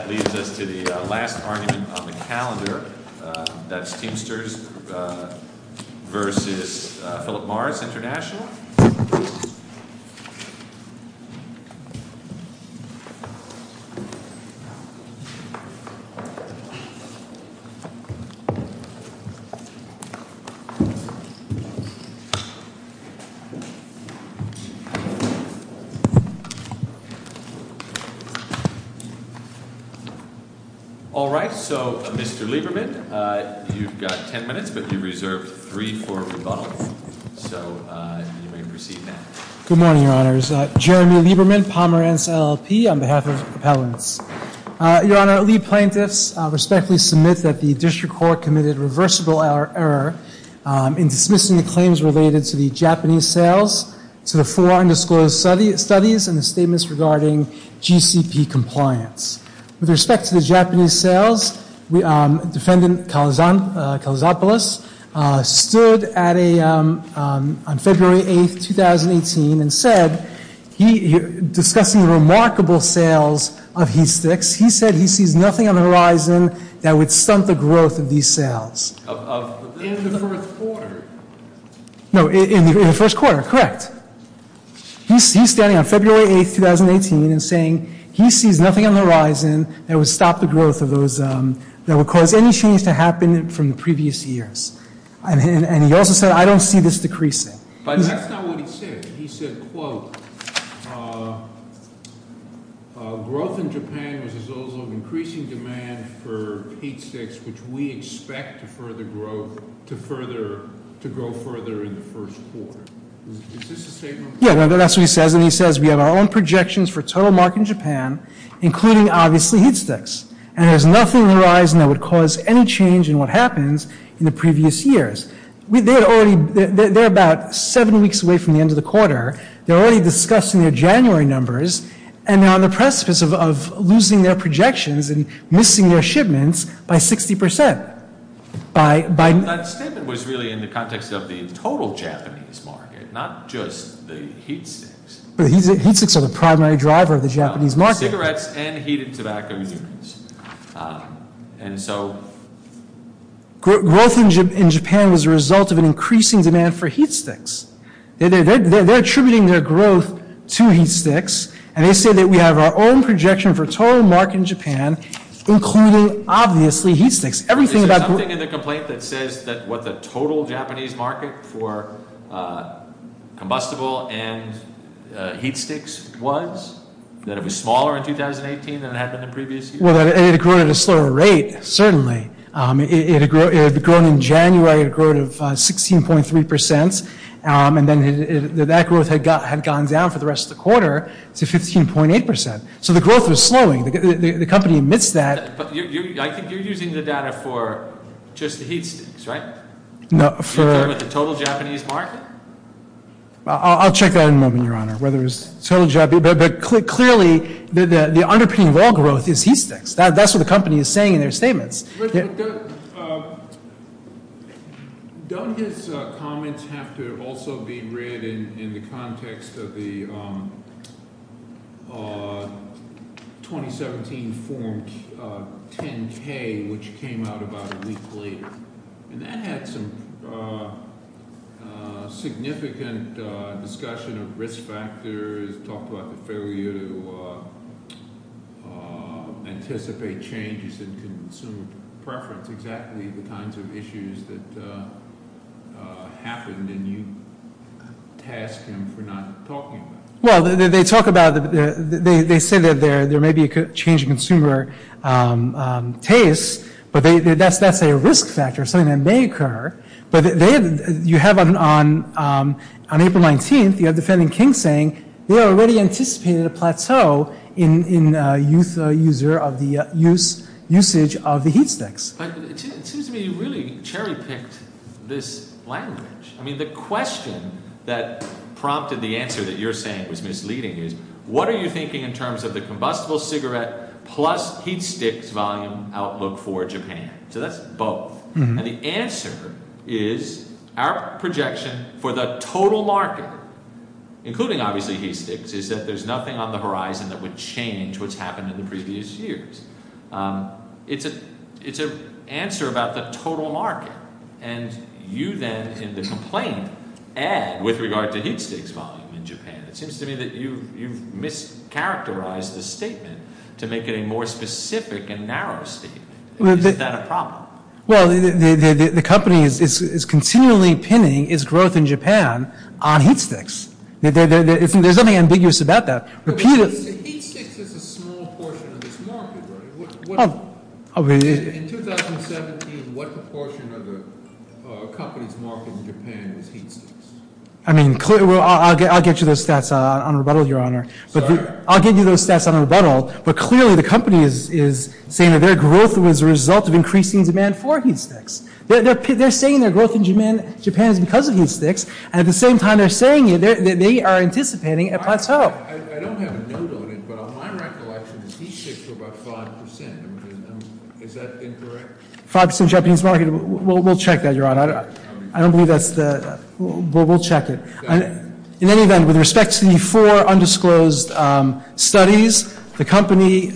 That leaves us to the last argument on the calendar, that's Teamsters vs. Philip Morris International. All right, so Mr. Lieberman, you've got 10 minutes, but you reserved three for rebuttal, so you may proceed now. JEREMY LIEBERMAN Good morning, Your Honors. Jeremy Lieberman, Palmer NLLP, on behalf of Appellants. Your Honor, lead plaintiffs respectfully submit that the district court committed reversible error in dismissing the claims related to the Japanese sales to the four undisclosed studies and the statements regarding GCP compliance. With respect to the Japanese sales, Defendant Kalazopoulos stood on February 8, 2018, and said, discussing the remarkable sales of he sticks, he said he sees nothing on the horizon that would stunt the growth of these sales. No, in the first quarter, correct. He's standing on February 8, 2018, and saying he sees nothing on the horizon that would stop the growth of those that would cause any change to happen from the previous years. And he also said, I don't see this decreasing. That's not what he said. He said, quote, growth in Japan was a result of increasing demand for heat sticks, which we expect to further grow, to further, to grow further in the first quarter. Is this a statement? Yeah, that's what he says. And he says, we have our own projections for total market in Japan, including obviously heat sticks. And there's nothing on the horizon that would cause any change in what happens in the previous years. They're about seven weeks away from the end of the quarter. They're already discussing their January numbers, and they're on the precipice of losing their projections and missing their shipments by 60%. That statement was really in the context of the total Japanese market, not just the heat sticks. But heat sticks are the primary driver of the Japanese market. Cigarettes and heated tobacco. And so growth in Japan was a result of an increasing demand for heat sticks. They're attributing their growth to heat sticks, and they say that we have our own projection for total market in Japan, including, obviously, heat sticks. Everything about- Is there something in the complaint that says that what the total Japanese market for combustible and heat sticks was, that it was smaller in 2018 than it had been in previous years? Well, it had grown at a slower rate, certainly. It had grown in January. It had grown of 16.3%, and then that growth had gone down for the rest of the quarter to 15.8%. So the growth was slowing. The company admits that. But I think you're using the data for just the heat sticks, right? No, for- You're talking about the total Japanese market? I'll check that in a moment, Your Honor. But clearly, the underpinning of all growth is heat sticks. That's what the company is saying in their statements. Don't his comments have to also be read in the context of the 2017 Form 10-K, which came out about a week later? And that had some significant discussion of risk factors, talked about the failure to anticipate changes in consumer preference, exactly the kinds of issues that happened, and you tasked him for not talking about it. Well, they talk about- They say that there may be a change in consumer tastes, but that's a risk factor, something that may occur. But you have on April 19th, you have defending King saying, they already anticipated a plateau in usage of the heat sticks. But it seems to me you really cherry-picked this language. I mean, the question that prompted the answer that you're saying was misleading is, what are you thinking in terms of the combustible cigarette plus heat sticks volume outlook for Japan? So that's both. And the answer is our projection for the total market, including obviously heat sticks, is that there's nothing on the horizon that would change what's happened in the previous years. It's an answer about the total market. And you then, in the complaint, add with regard to heat sticks volume in Japan. It seems to me that you've mischaracterized the statement to make it a more specific and narrow statement. Is that a problem? Well, the company is continually pinning its growth in Japan on heat sticks. There's nothing ambiguous about that. Heat sticks is a small portion of this market, right? In 2017, what proportion of the company's market in Japan is heat sticks? I mean, I'll get you those stats on rebuttal, Your Honor. I'll give you those stats on rebuttal. But clearly the company is saying that their growth was a result of increasing demand for heat sticks. They're saying their growth in Japan is because of heat sticks. And at the same time, they're saying they are anticipating a plateau. I don't have a note on it, but on my recollection, the heat sticks were about 5%. Is that incorrect? 5% of the Japanese market. We'll check that, Your Honor. I don't believe that's the – we'll check it. In any event, with respect to the four undisclosed studies, the company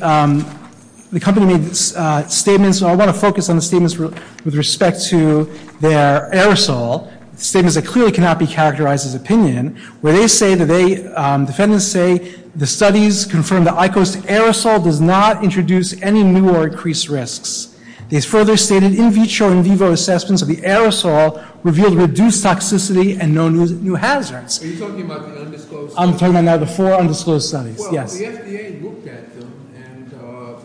made statements, and I want to focus on the statements with respect to their aerosol, statements that clearly cannot be characterized as opinion, where they say that they – defendants say the studies confirm the ICO's aerosol does not introduce any new or increased risks. They further stated in vitro and vivo assessments of the aerosol revealed reduced toxicity and no new hazards. Are you talking about the undisclosed studies? I'm talking about the four undisclosed studies, yes. Well, the FDA looked at them and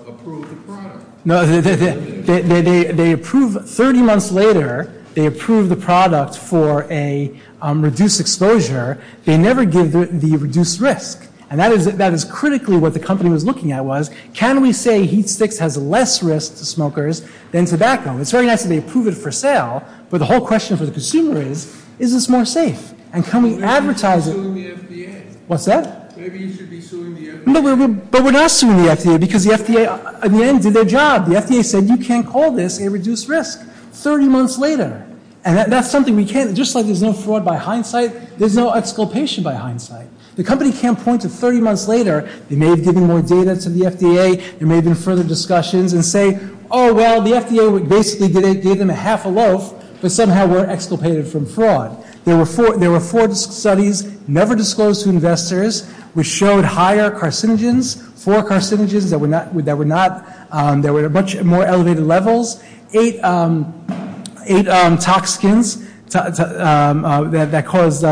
approved the product. No, they approved – 30 months later, they approved the product for a reduced exposure. They never give the reduced risk. And that is critically what the company was looking at was, can we say heat sticks has less risk to smokers than tobacco? It's very nice that they approve it for sale, but the whole question for the consumer is, is this more safe? And can we advertise it? Maybe you should be suing the FDA. What's that? Maybe you should be suing the FDA. No, but we're not suing the FDA because the FDA, in the end, did their job. The FDA said you can't call this a reduced risk 30 months later. And that's something we can't – just like there's no fraud by hindsight, there's no exculpation by hindsight. The company can't point to 30 months later, they may have given more data to the FDA, there may have been further discussions and say, oh, well, the FDA basically gave them a half a loaf, but somehow we're exculpated from fraud. There were four studies, never disclosed to investors, which showed higher carcinogens, four carcinogens that were not – that were much more elevated levels, eight toxicants that cause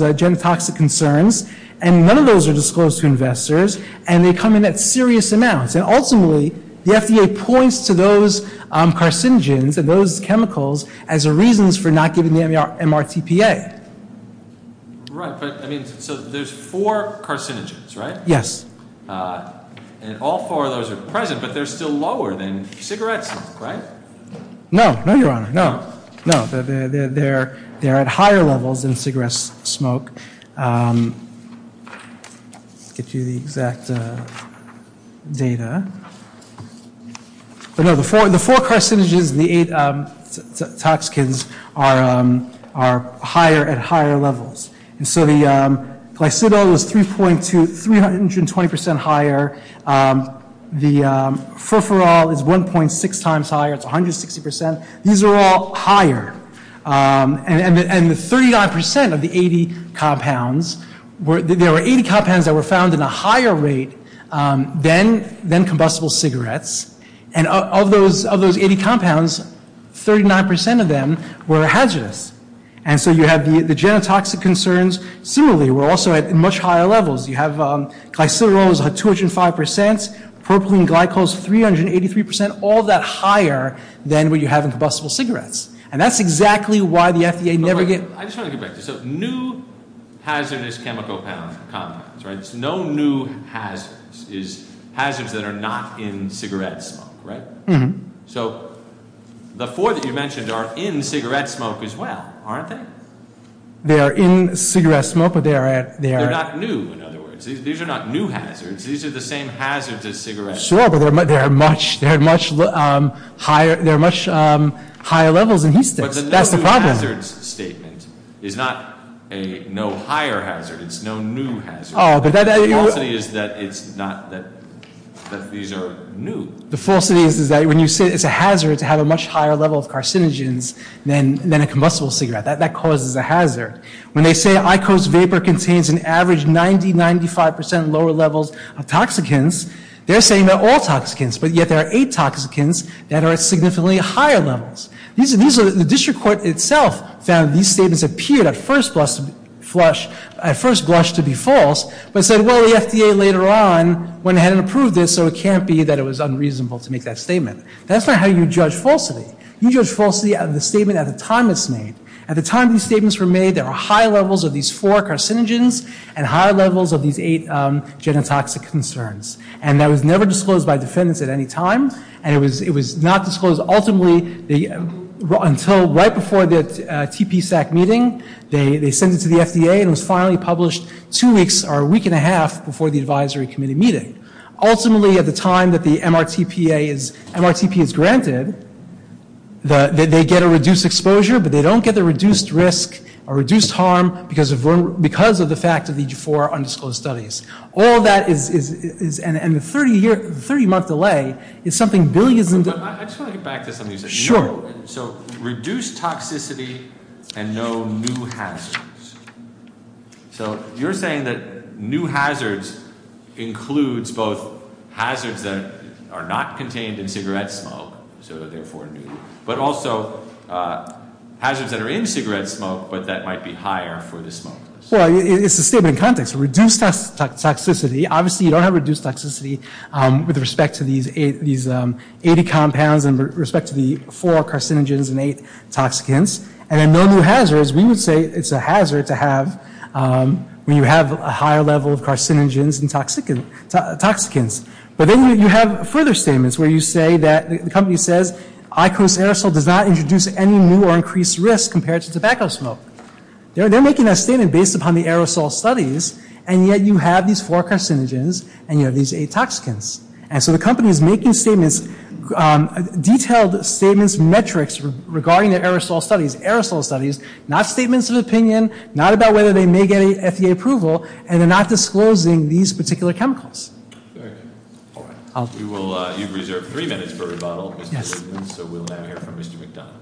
genotoxic concerns, and none of those are disclosed to investors, and they come in at serious amounts. And ultimately, the FDA points to those carcinogens and those chemicals as reasons for not giving the MRTPA. Right, but, I mean, so there's four carcinogens, right? Yes. And all four of those are present, but they're still lower than cigarettes, right? No, no, Your Honor, no. They're at higher levels than cigarette smoke. I'll get you the exact data. But no, the four carcinogens, the eight toxicants, are higher at higher levels. And so the glycidol is 3.2 – 320 percent higher. The furfural is 1.6 times higher. It's 160 percent. These are all higher, and the 39 percent of the 80 compounds were – there were 80 compounds that were found in a higher rate than combustible cigarettes, and of those 80 compounds, 39 percent of them were hazardous. And so you have the genotoxic concerns. Similarly, we're also at much higher levels. You have glycidol is at 205 percent, propylene glycol is 383 percent, all that higher than what you have in combustible cigarettes. And that's exactly why the FDA never gave – I just want to get back to this. So new hazardous chemical compounds, right, it's no new hazards, it's hazards that are not in cigarette smoke, right? Mm-hmm. So the four that you mentioned are in cigarette smoke as well, aren't they? They are in cigarette smoke, but they are at – They're not new, in other words. These are not new hazards. These are the same hazards as cigarettes. Sure, but they're much – they're much higher – they're much higher levels than heat sticks. That's the problem. But the no new hazards statement is not a no higher hazard. It's no new hazard. Oh, but that – The falsity is that it's not – that these are new. The falsity is that when you say it's a hazard to have a much higher level of carcinogens than a combustible cigarette, that causes a hazard. When they say Iqos vapor contains an average 90, 95 percent lower levels of toxicants, they're saying they're all toxicants, but yet there are eight toxicants that are at significantly higher levels. The district court itself found these statements appeared at first blush to be false, but said, well, the FDA later on went ahead and approved this, so it can't be that it was unreasonable to make that statement. That's not how you judge falsity. You judge falsity out of the statement at the time it's made. At the time these statements were made, there were high levels of these four carcinogens and high levels of these eight genotoxic concerns. And that was never disclosed by defendants at any time, and it was not disclosed ultimately until right before the TPSAC meeting. They sent it to the FDA, and it was finally published two weeks or a week and a half before the advisory committee meeting. Ultimately, at the time that the MRTPA is granted, they get a reduced exposure, but they don't get the reduced risk or reduced harm because of the fact of these four undisclosed studies. All that is – and the 30-month delay is something billions – I just want to get back to something you said. Sure. So, reduced toxicity and no new hazards. So, you're saying that new hazards includes both hazards that are not contained in cigarette smoke, so therefore new, but also hazards that are in cigarette smoke, but that might be higher for the smokers. Well, it's a statement in context. Reduced toxicity – obviously, you don't have reduced toxicity with respect to these 80 compounds and with respect to the four carcinogens and eight toxicants. And then no new hazards. We would say it's a hazard to have when you have a higher level of carcinogens and toxicants. But then you have further statements where you say that – the company says IQOS aerosol does not introduce any new or increased risk compared to tobacco smoke. They're making that statement based upon the aerosol studies, and yet you have these four carcinogens and you have these eight toxicants. And so the company is making statements – detailed statements, metrics regarding their aerosol studies. Aerosol studies, not statements of opinion, not about whether they may get an FDA approval, and they're not disclosing these particular chemicals. All right. You've reserved three minutes for rebuttal. So, we'll now hear from Mr. McDonough.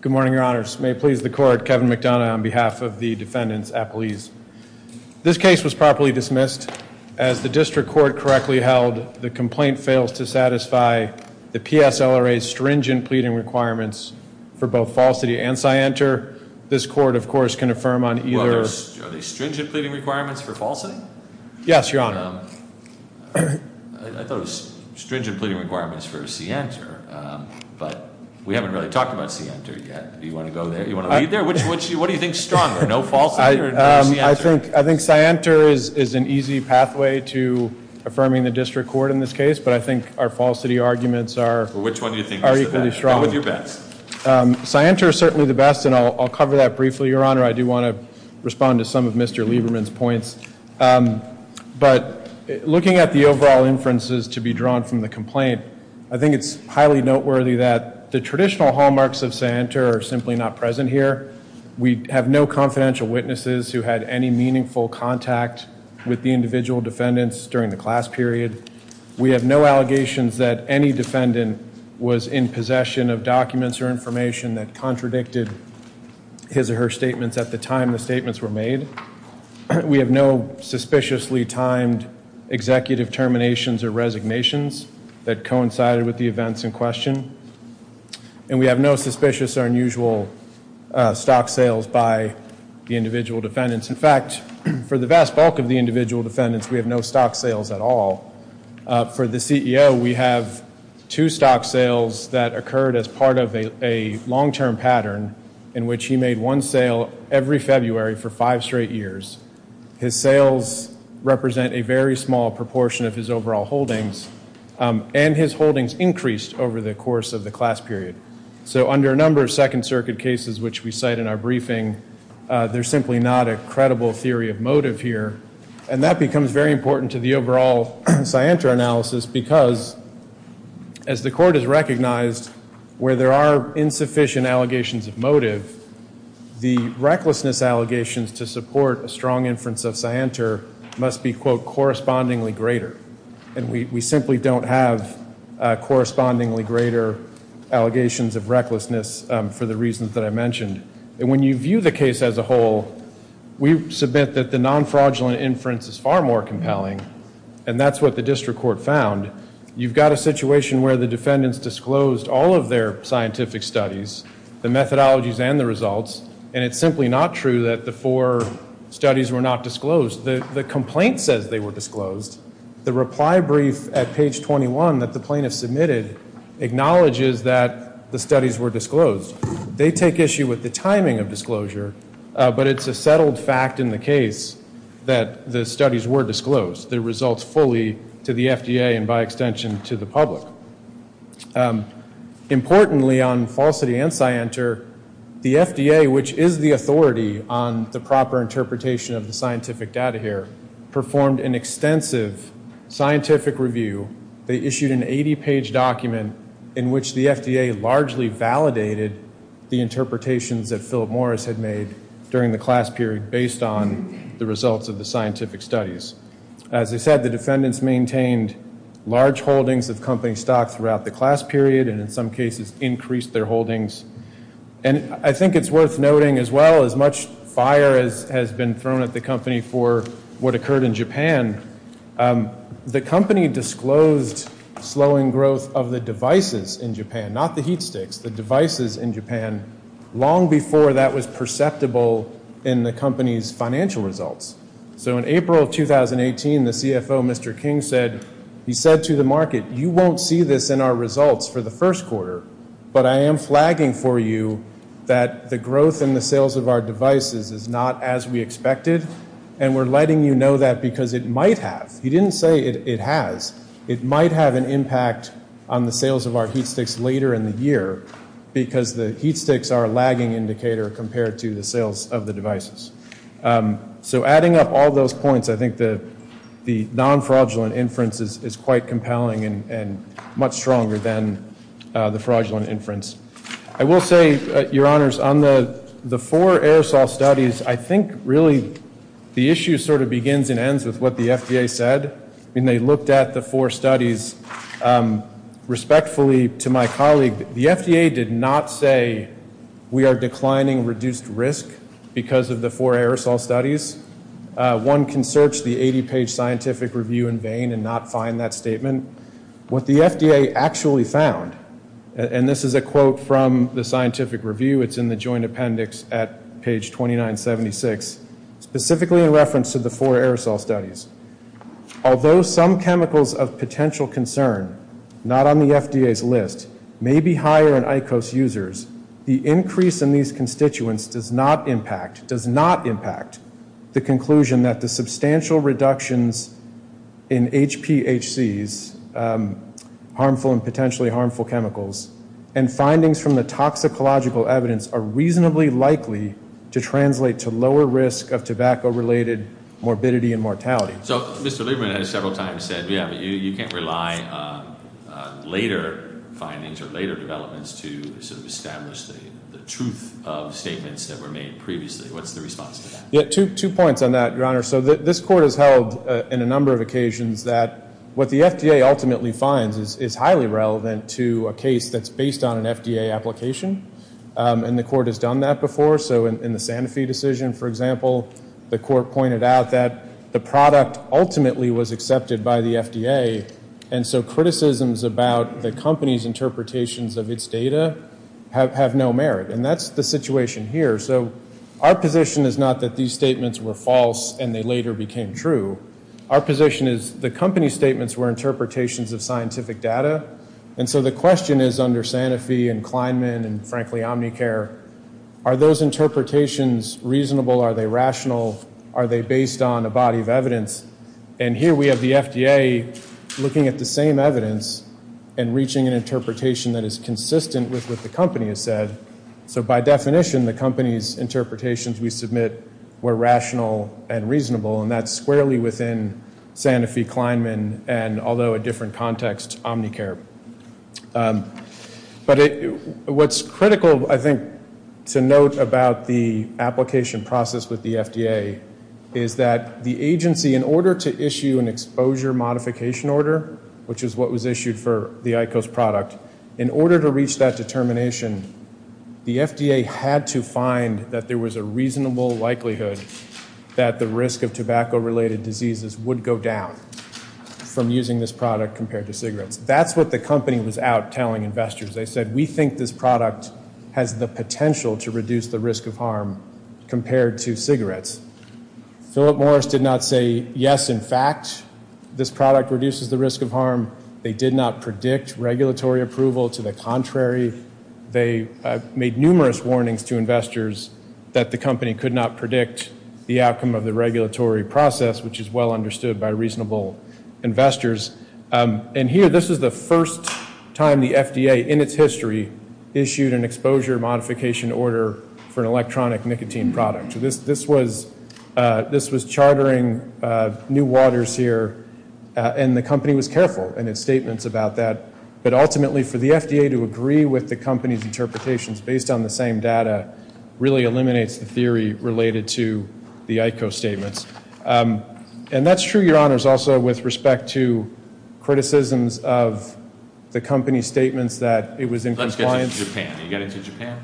Good morning, Your Honors. May it please the Court, Kevin McDonough on behalf of the defendants at police. This case was properly dismissed. As the district court correctly held, the complaint fails to satisfy the PSLRA's stringent pleading requirements for both Falsity and Cienter. This court, of course, can affirm on either – Are they stringent pleading requirements for Falsity? Yes, Your Honor. I thought it was stringent pleading requirements for Cienter, but we haven't really talked about Cienter yet. Do you want to go there? Do you want to leave there? What do you think is stronger, no Falsity or no Cienter? I think Cienter is an easy pathway to affirming the district court in this case, but I think our Falsity arguments are equally strong. Which one do you think is the best? Go with your best. Cienter is certainly the best, and I'll cover that briefly, Your Honor. I do want to respond to some of Mr. Lieberman's points. But looking at the overall inferences to be drawn from the complaint, I think it's highly noteworthy that the traditional hallmarks of Cienter are simply not present here. We have no confidential witnesses who had any meaningful contact with the individual defendants during the class period. We have no allegations that any defendant was in possession of documents or information that contradicted his or her statements at the time the statements were made. We have no suspiciously timed executive terminations or resignations that coincided with the events in question. And we have no suspicious or unusual stock sales by the individual defendants. In fact, for the vast bulk of the individual defendants, we have no stock sales at all. For the CEO, we have two stock sales that occurred as part of a long-term pattern in which he made one sale every February for five straight years. His sales represent a very small proportion of his overall holdings, and his holdings increased over the course of the class period. So under a number of Second Circuit cases, which we cite in our briefing, there's simply not a credible theory of motive here. And that becomes very important to the overall Cienter analysis because, as the Court has recognized, where there are insufficient allegations of motive, the recklessness allegations to support a strong inference of Cienter must be, quote, correspondingly greater, and we simply don't have correspondingly greater allegations of recklessness for the reasons that I mentioned. And when you view the case as a whole, we submit that the non-fraudulent inference is far more compelling, and that's what the District Court found. You've got a situation where the defendants disclosed all of their scientific studies, the methodologies and the results, and it's simply not true that the four studies were not disclosed. The complaint says they were disclosed. The reply brief at page 21 that the plaintiff submitted acknowledges that the studies were disclosed. They take issue with the timing of disclosure, but it's a settled fact in the case that the studies were disclosed, the results fully to the FDA and by extension to the public. Importantly, on falsity and Cienter, the FDA, which is the authority on the proper interpretation of the scientific data here, performed an extensive scientific review. They issued an 80-page document in which the FDA largely validated the interpretations that Philip Morris had made during the class period based on the results of the scientific studies. As I said, the defendants maintained large holdings of company stock throughout the class period and in some cases increased their holdings. And I think it's worth noting as well as much fire has been thrown at the company for what occurred in Japan, the company disclosed slowing growth of the devices in Japan, not the heat sticks, the devices in Japan, long before that was perceptible in the company's financial results. So in April of 2018, the CFO, Mr. King, said, he said to the market, you won't see this in our results for the first quarter, but I am flagging for you that the growth in the sales of our devices is not as we expected, and we're letting you know that because it might have. He didn't say it has. It might have an impact on the sales of our heat sticks later in the year because the heat sticks are a lagging indicator compared to the sales of the devices. So adding up all those points, I think the non-fraudulent inference is quite compelling and much stronger than the fraudulent inference. I will say, Your Honors, on the four aerosol studies, I think really the issue sort of begins and ends with what the FDA said. When they looked at the four studies, respectfully to my colleague, the FDA did not say we are declining reduced risk because of the four aerosol studies. One can search the 80-page scientific review in vain and not find that statement. What the FDA actually found, and this is a quote from the scientific review. It's in the joint appendix at page 2976, specifically in reference to the four aerosol studies. Although some chemicals of potential concern, not on the FDA's list, may be higher in IQOS users, the increase in these constituents does not impact, does not impact, the conclusion that the substantial reductions in HPHCs, harmful and potentially harmful chemicals, and findings from the toxicological evidence are reasonably likely to translate to lower risk of tobacco-related morbidity and mortality. So Mr. Lieberman has several times said, yeah, but you can't rely on later findings or later developments to sort of establish the truth of statements that were made previously. What's the response to that? Yeah, two points on that, Your Honor. So this court has held in a number of occasions that what the FDA ultimately finds is highly relevant to a case that's based on an FDA application. And the court has done that before. So in the Sanofi decision, for example, the court pointed out that the product ultimately was accepted by the FDA. And so criticisms about the company's interpretations of its data have no merit. And that's the situation here. So our position is not that these statements were false and they later became true. Our position is the company's statements were interpretations of scientific data. And so the question is under Sanofi and Kleinman and, frankly, Omnicare, are those interpretations reasonable? Are they rational? Are they based on a body of evidence? And here we have the FDA looking at the same evidence and reaching an interpretation that is consistent with what the company has said. So by definition, the company's interpretations we submit were rational and reasonable, and that's squarely within Sanofi, Kleinman, and, although a different context, Omnicare. But what's critical, I think, to note about the application process with the FDA is that the agency, in order to issue an exposure modification order, which is what was issued for the IQOS product, in order to reach that determination, the FDA had to find that there was a reasonable likelihood that the risk of tobacco-related diseases would go down from using this product compared to cigarettes. That's what the company was out telling investors. They said, we think this product has the potential to reduce the risk of harm compared to cigarettes. Philip Morris did not say, yes, in fact, this product reduces the risk of harm. They did not predict regulatory approval. To the contrary, they made numerous warnings to investors that the company could not predict the outcome of the regulatory process, which is well understood by reasonable investors. And here, this is the first time the FDA in its history issued an exposure modification order for an electronic nicotine product. This was chartering new waters here, and the company was careful in its statements about that. But ultimately, for the FDA to agree with the company's interpretations based on the same data really eliminates the theory related to the IQOS statements. And that's true, Your Honors, also with respect to criticisms of the company's statements that it was in compliance. Let's get to Japan. Are you getting to Japan?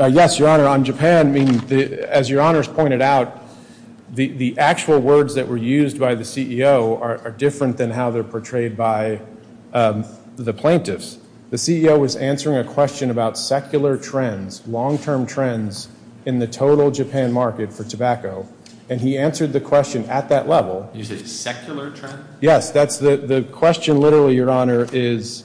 Yes, Your Honor. On Japan, as Your Honors pointed out, the actual words that were used by the CEO are different than how they're portrayed by the plaintiffs. The CEO was answering a question about secular trends, long-term trends in the total Japan market for tobacco. And he answered the question at that level. You said secular trend? Yes. The question, literally, Your Honor, is,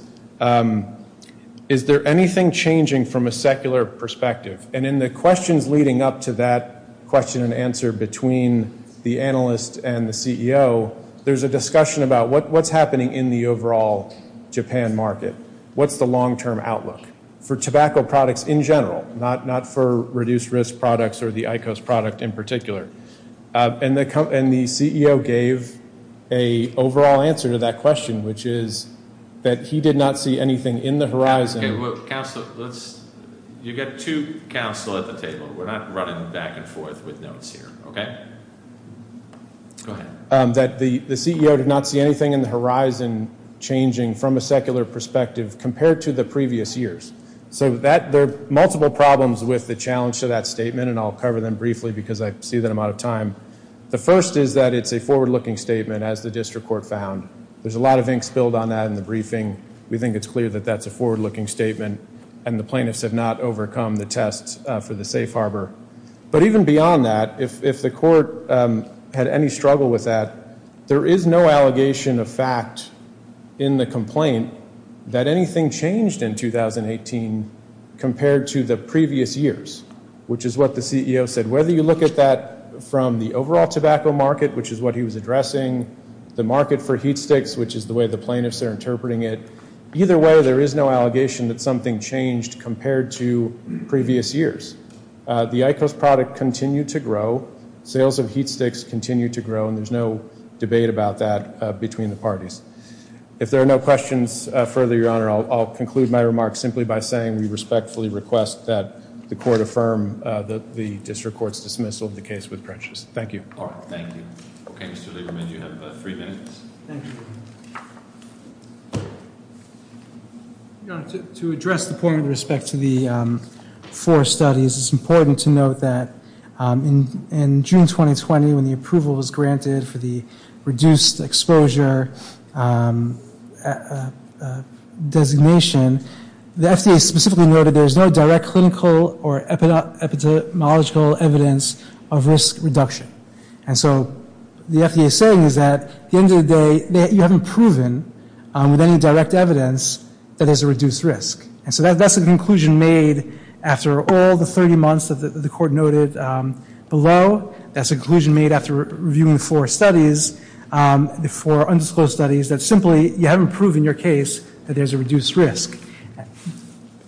is there anything changing from a secular perspective? And in the questions leading up to that question and answer between the analyst and the CEO, there's a discussion about what's happening in the overall Japan market. What's the long-term outlook for tobacco products in general, not for reduced risk products or the IQOS product in particular? And the CEO gave an overall answer to that question, which is that he did not see anything in the horizon. Counsel, you've got two counsel at the table. We're not running back and forth with notes here, okay? Go ahead. That the CEO did not see anything in the horizon changing from a secular perspective compared to the previous years. So there are multiple problems with the challenge to that statement, and I'll cover them briefly because I see that I'm out of time. The first is that it's a forward-looking statement, as the district court found. There's a lot of ink spilled on that in the briefing. We think it's clear that that's a forward-looking statement, and the plaintiffs have not overcome the test for the safe harbor. But even beyond that, if the court had any struggle with that, there is no allegation of fact in the complaint that anything changed in 2018 compared to the previous years, which is what the CEO said. Whether you look at that from the overall tobacco market, which is what he was addressing, the market for heat sticks, which is the way the plaintiffs are interpreting it, either way there is no allegation that something changed compared to previous years. The IQOS product continued to grow. Sales of heat sticks continue to grow, and there's no debate about that between the parties. If there are no questions further, Your Honor, I'll conclude my remarks simply by saying we respectfully request that the court affirm the district court's dismissal of the case with Prentice. Thank you. All right, thank you. Okay, Mr. Lieberman, you have three minutes. Thank you. Your Honor, to address the point with respect to the four studies, it's important to note that in June 2020 when the approval was granted for the reduced exposure designation, the FDA specifically noted there is no direct clinical or epidemiological evidence of risk reduction. And so the FDA is saying is that at the end of the day you haven't proven with any direct evidence that there's a reduced risk. And so that's a conclusion made after all the 30 months that the court noted below. That's a conclusion made after reviewing the four studies, the four undisclosed studies, that simply you haven't proven in your case that there's a reduced risk.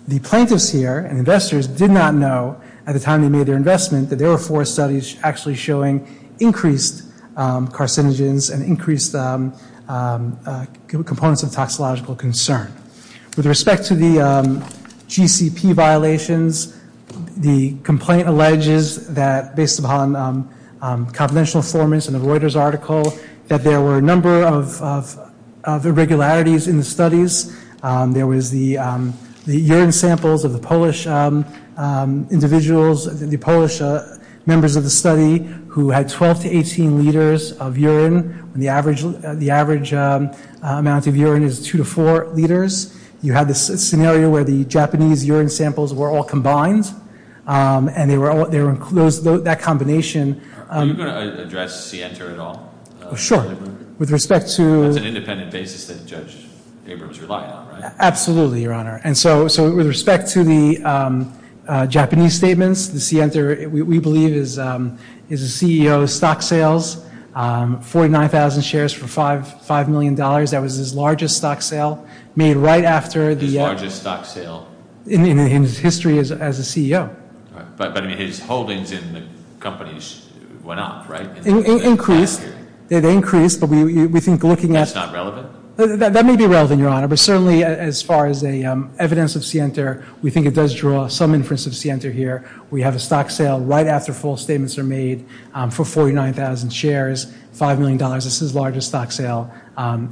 The plaintiffs here and investors did not know at the time they made their investment that there were four studies actually showing increased carcinogens and increased components of toxicological concern. With respect to the GCP violations, the complaint alleges that based upon confidential informants and a Reuters article that there were a number of irregularities in the studies. There was the urine samples of the Polish individuals, the Polish members of the study, who had 12 to 18 liters of urine when the average amount of urine is two to four liters. You had this scenario where the Japanese urine samples were all combined. And that combination- Are you going to address Sienta at all? Sure. With respect to- That's an independent basis that Judge Abrams relied on, right? Absolutely, Your Honor. And so with respect to the Japanese statements, the Sienta, we believe, is a CEO of stock sales, 49,000 shares for $5 million. That was his largest stock sale made right after the- His largest stock sale- In his history as a CEO. But his holdings in the companies went up, right? They increased, but we think looking at- That's not relevant? That may be relevant, Your Honor, but certainly as far as evidence of Sienta, we think it does draw some inference of Sienta here. We have a stock sale right after full statements are made for 49,000 shares, $5 million. This is the largest stock sale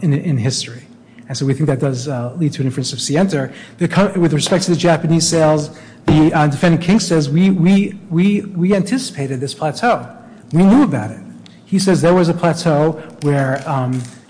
in history. And so we think that does lead to an inference of Sienta. With respect to the Japanese sales, Defendant King says we anticipated this plateau. We knew about it. He says there was a plateau where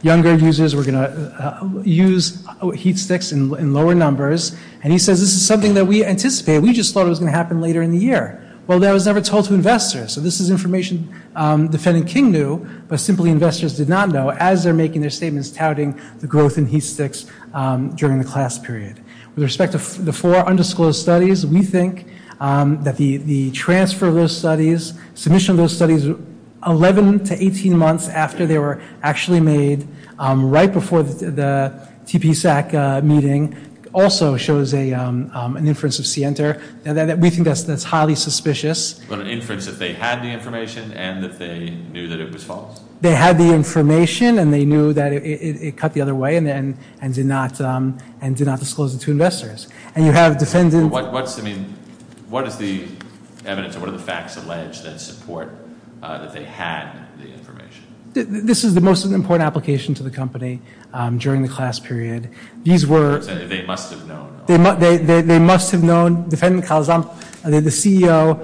younger users were going to use heat sticks in lower numbers, and he says this is something that we anticipated. We just thought it was going to happen later in the year. Well, that was never told to investors. So this is information Defendant King knew, but simply investors did not know as they're making their statements touting the growth in heat sticks during the class period. With respect to the four undisclosed studies, we think that the transfer of those studies, submission of those studies 11 to 18 months after they were actually made, right before the TPSAC meeting, also shows an inference of Sienta. We think that's highly suspicious. But an inference that they had the information and that they knew that it was false? They had the information and they knew that it cut the other way and did not disclose it to investors. And you have Defendant- What is the evidence or what are the facts alleged that support that they had the information? This is the most important application to the company during the class period. These were- They must have known. They must have known. The CEO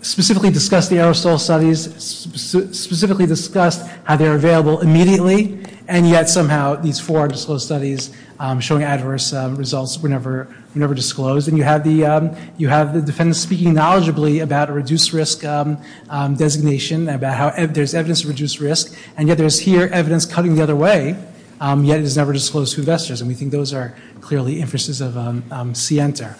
specifically discussed the aerosol studies, specifically discussed how they're available immediately, and yet somehow these four undisclosed studies showing adverse results were never disclosed. And you have the defendant speaking knowledgeably about a reduced risk designation, about how there's evidence of reduced risk, and yet there's here evidence cutting the other way, yet it is never disclosed to investors. And we think those are clearly inferences of Sienta.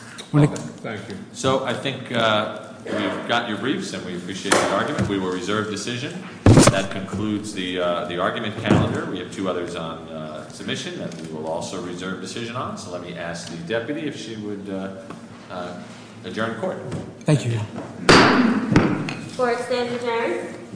Thank you. So I think we've gotten your briefs and we appreciate the argument. We will reserve decision. That concludes the argument calendar. We have two others on submission that we will also reserve decision on. So let me ask the deputy if she would adjourn court. Thank you. Court is adjourned.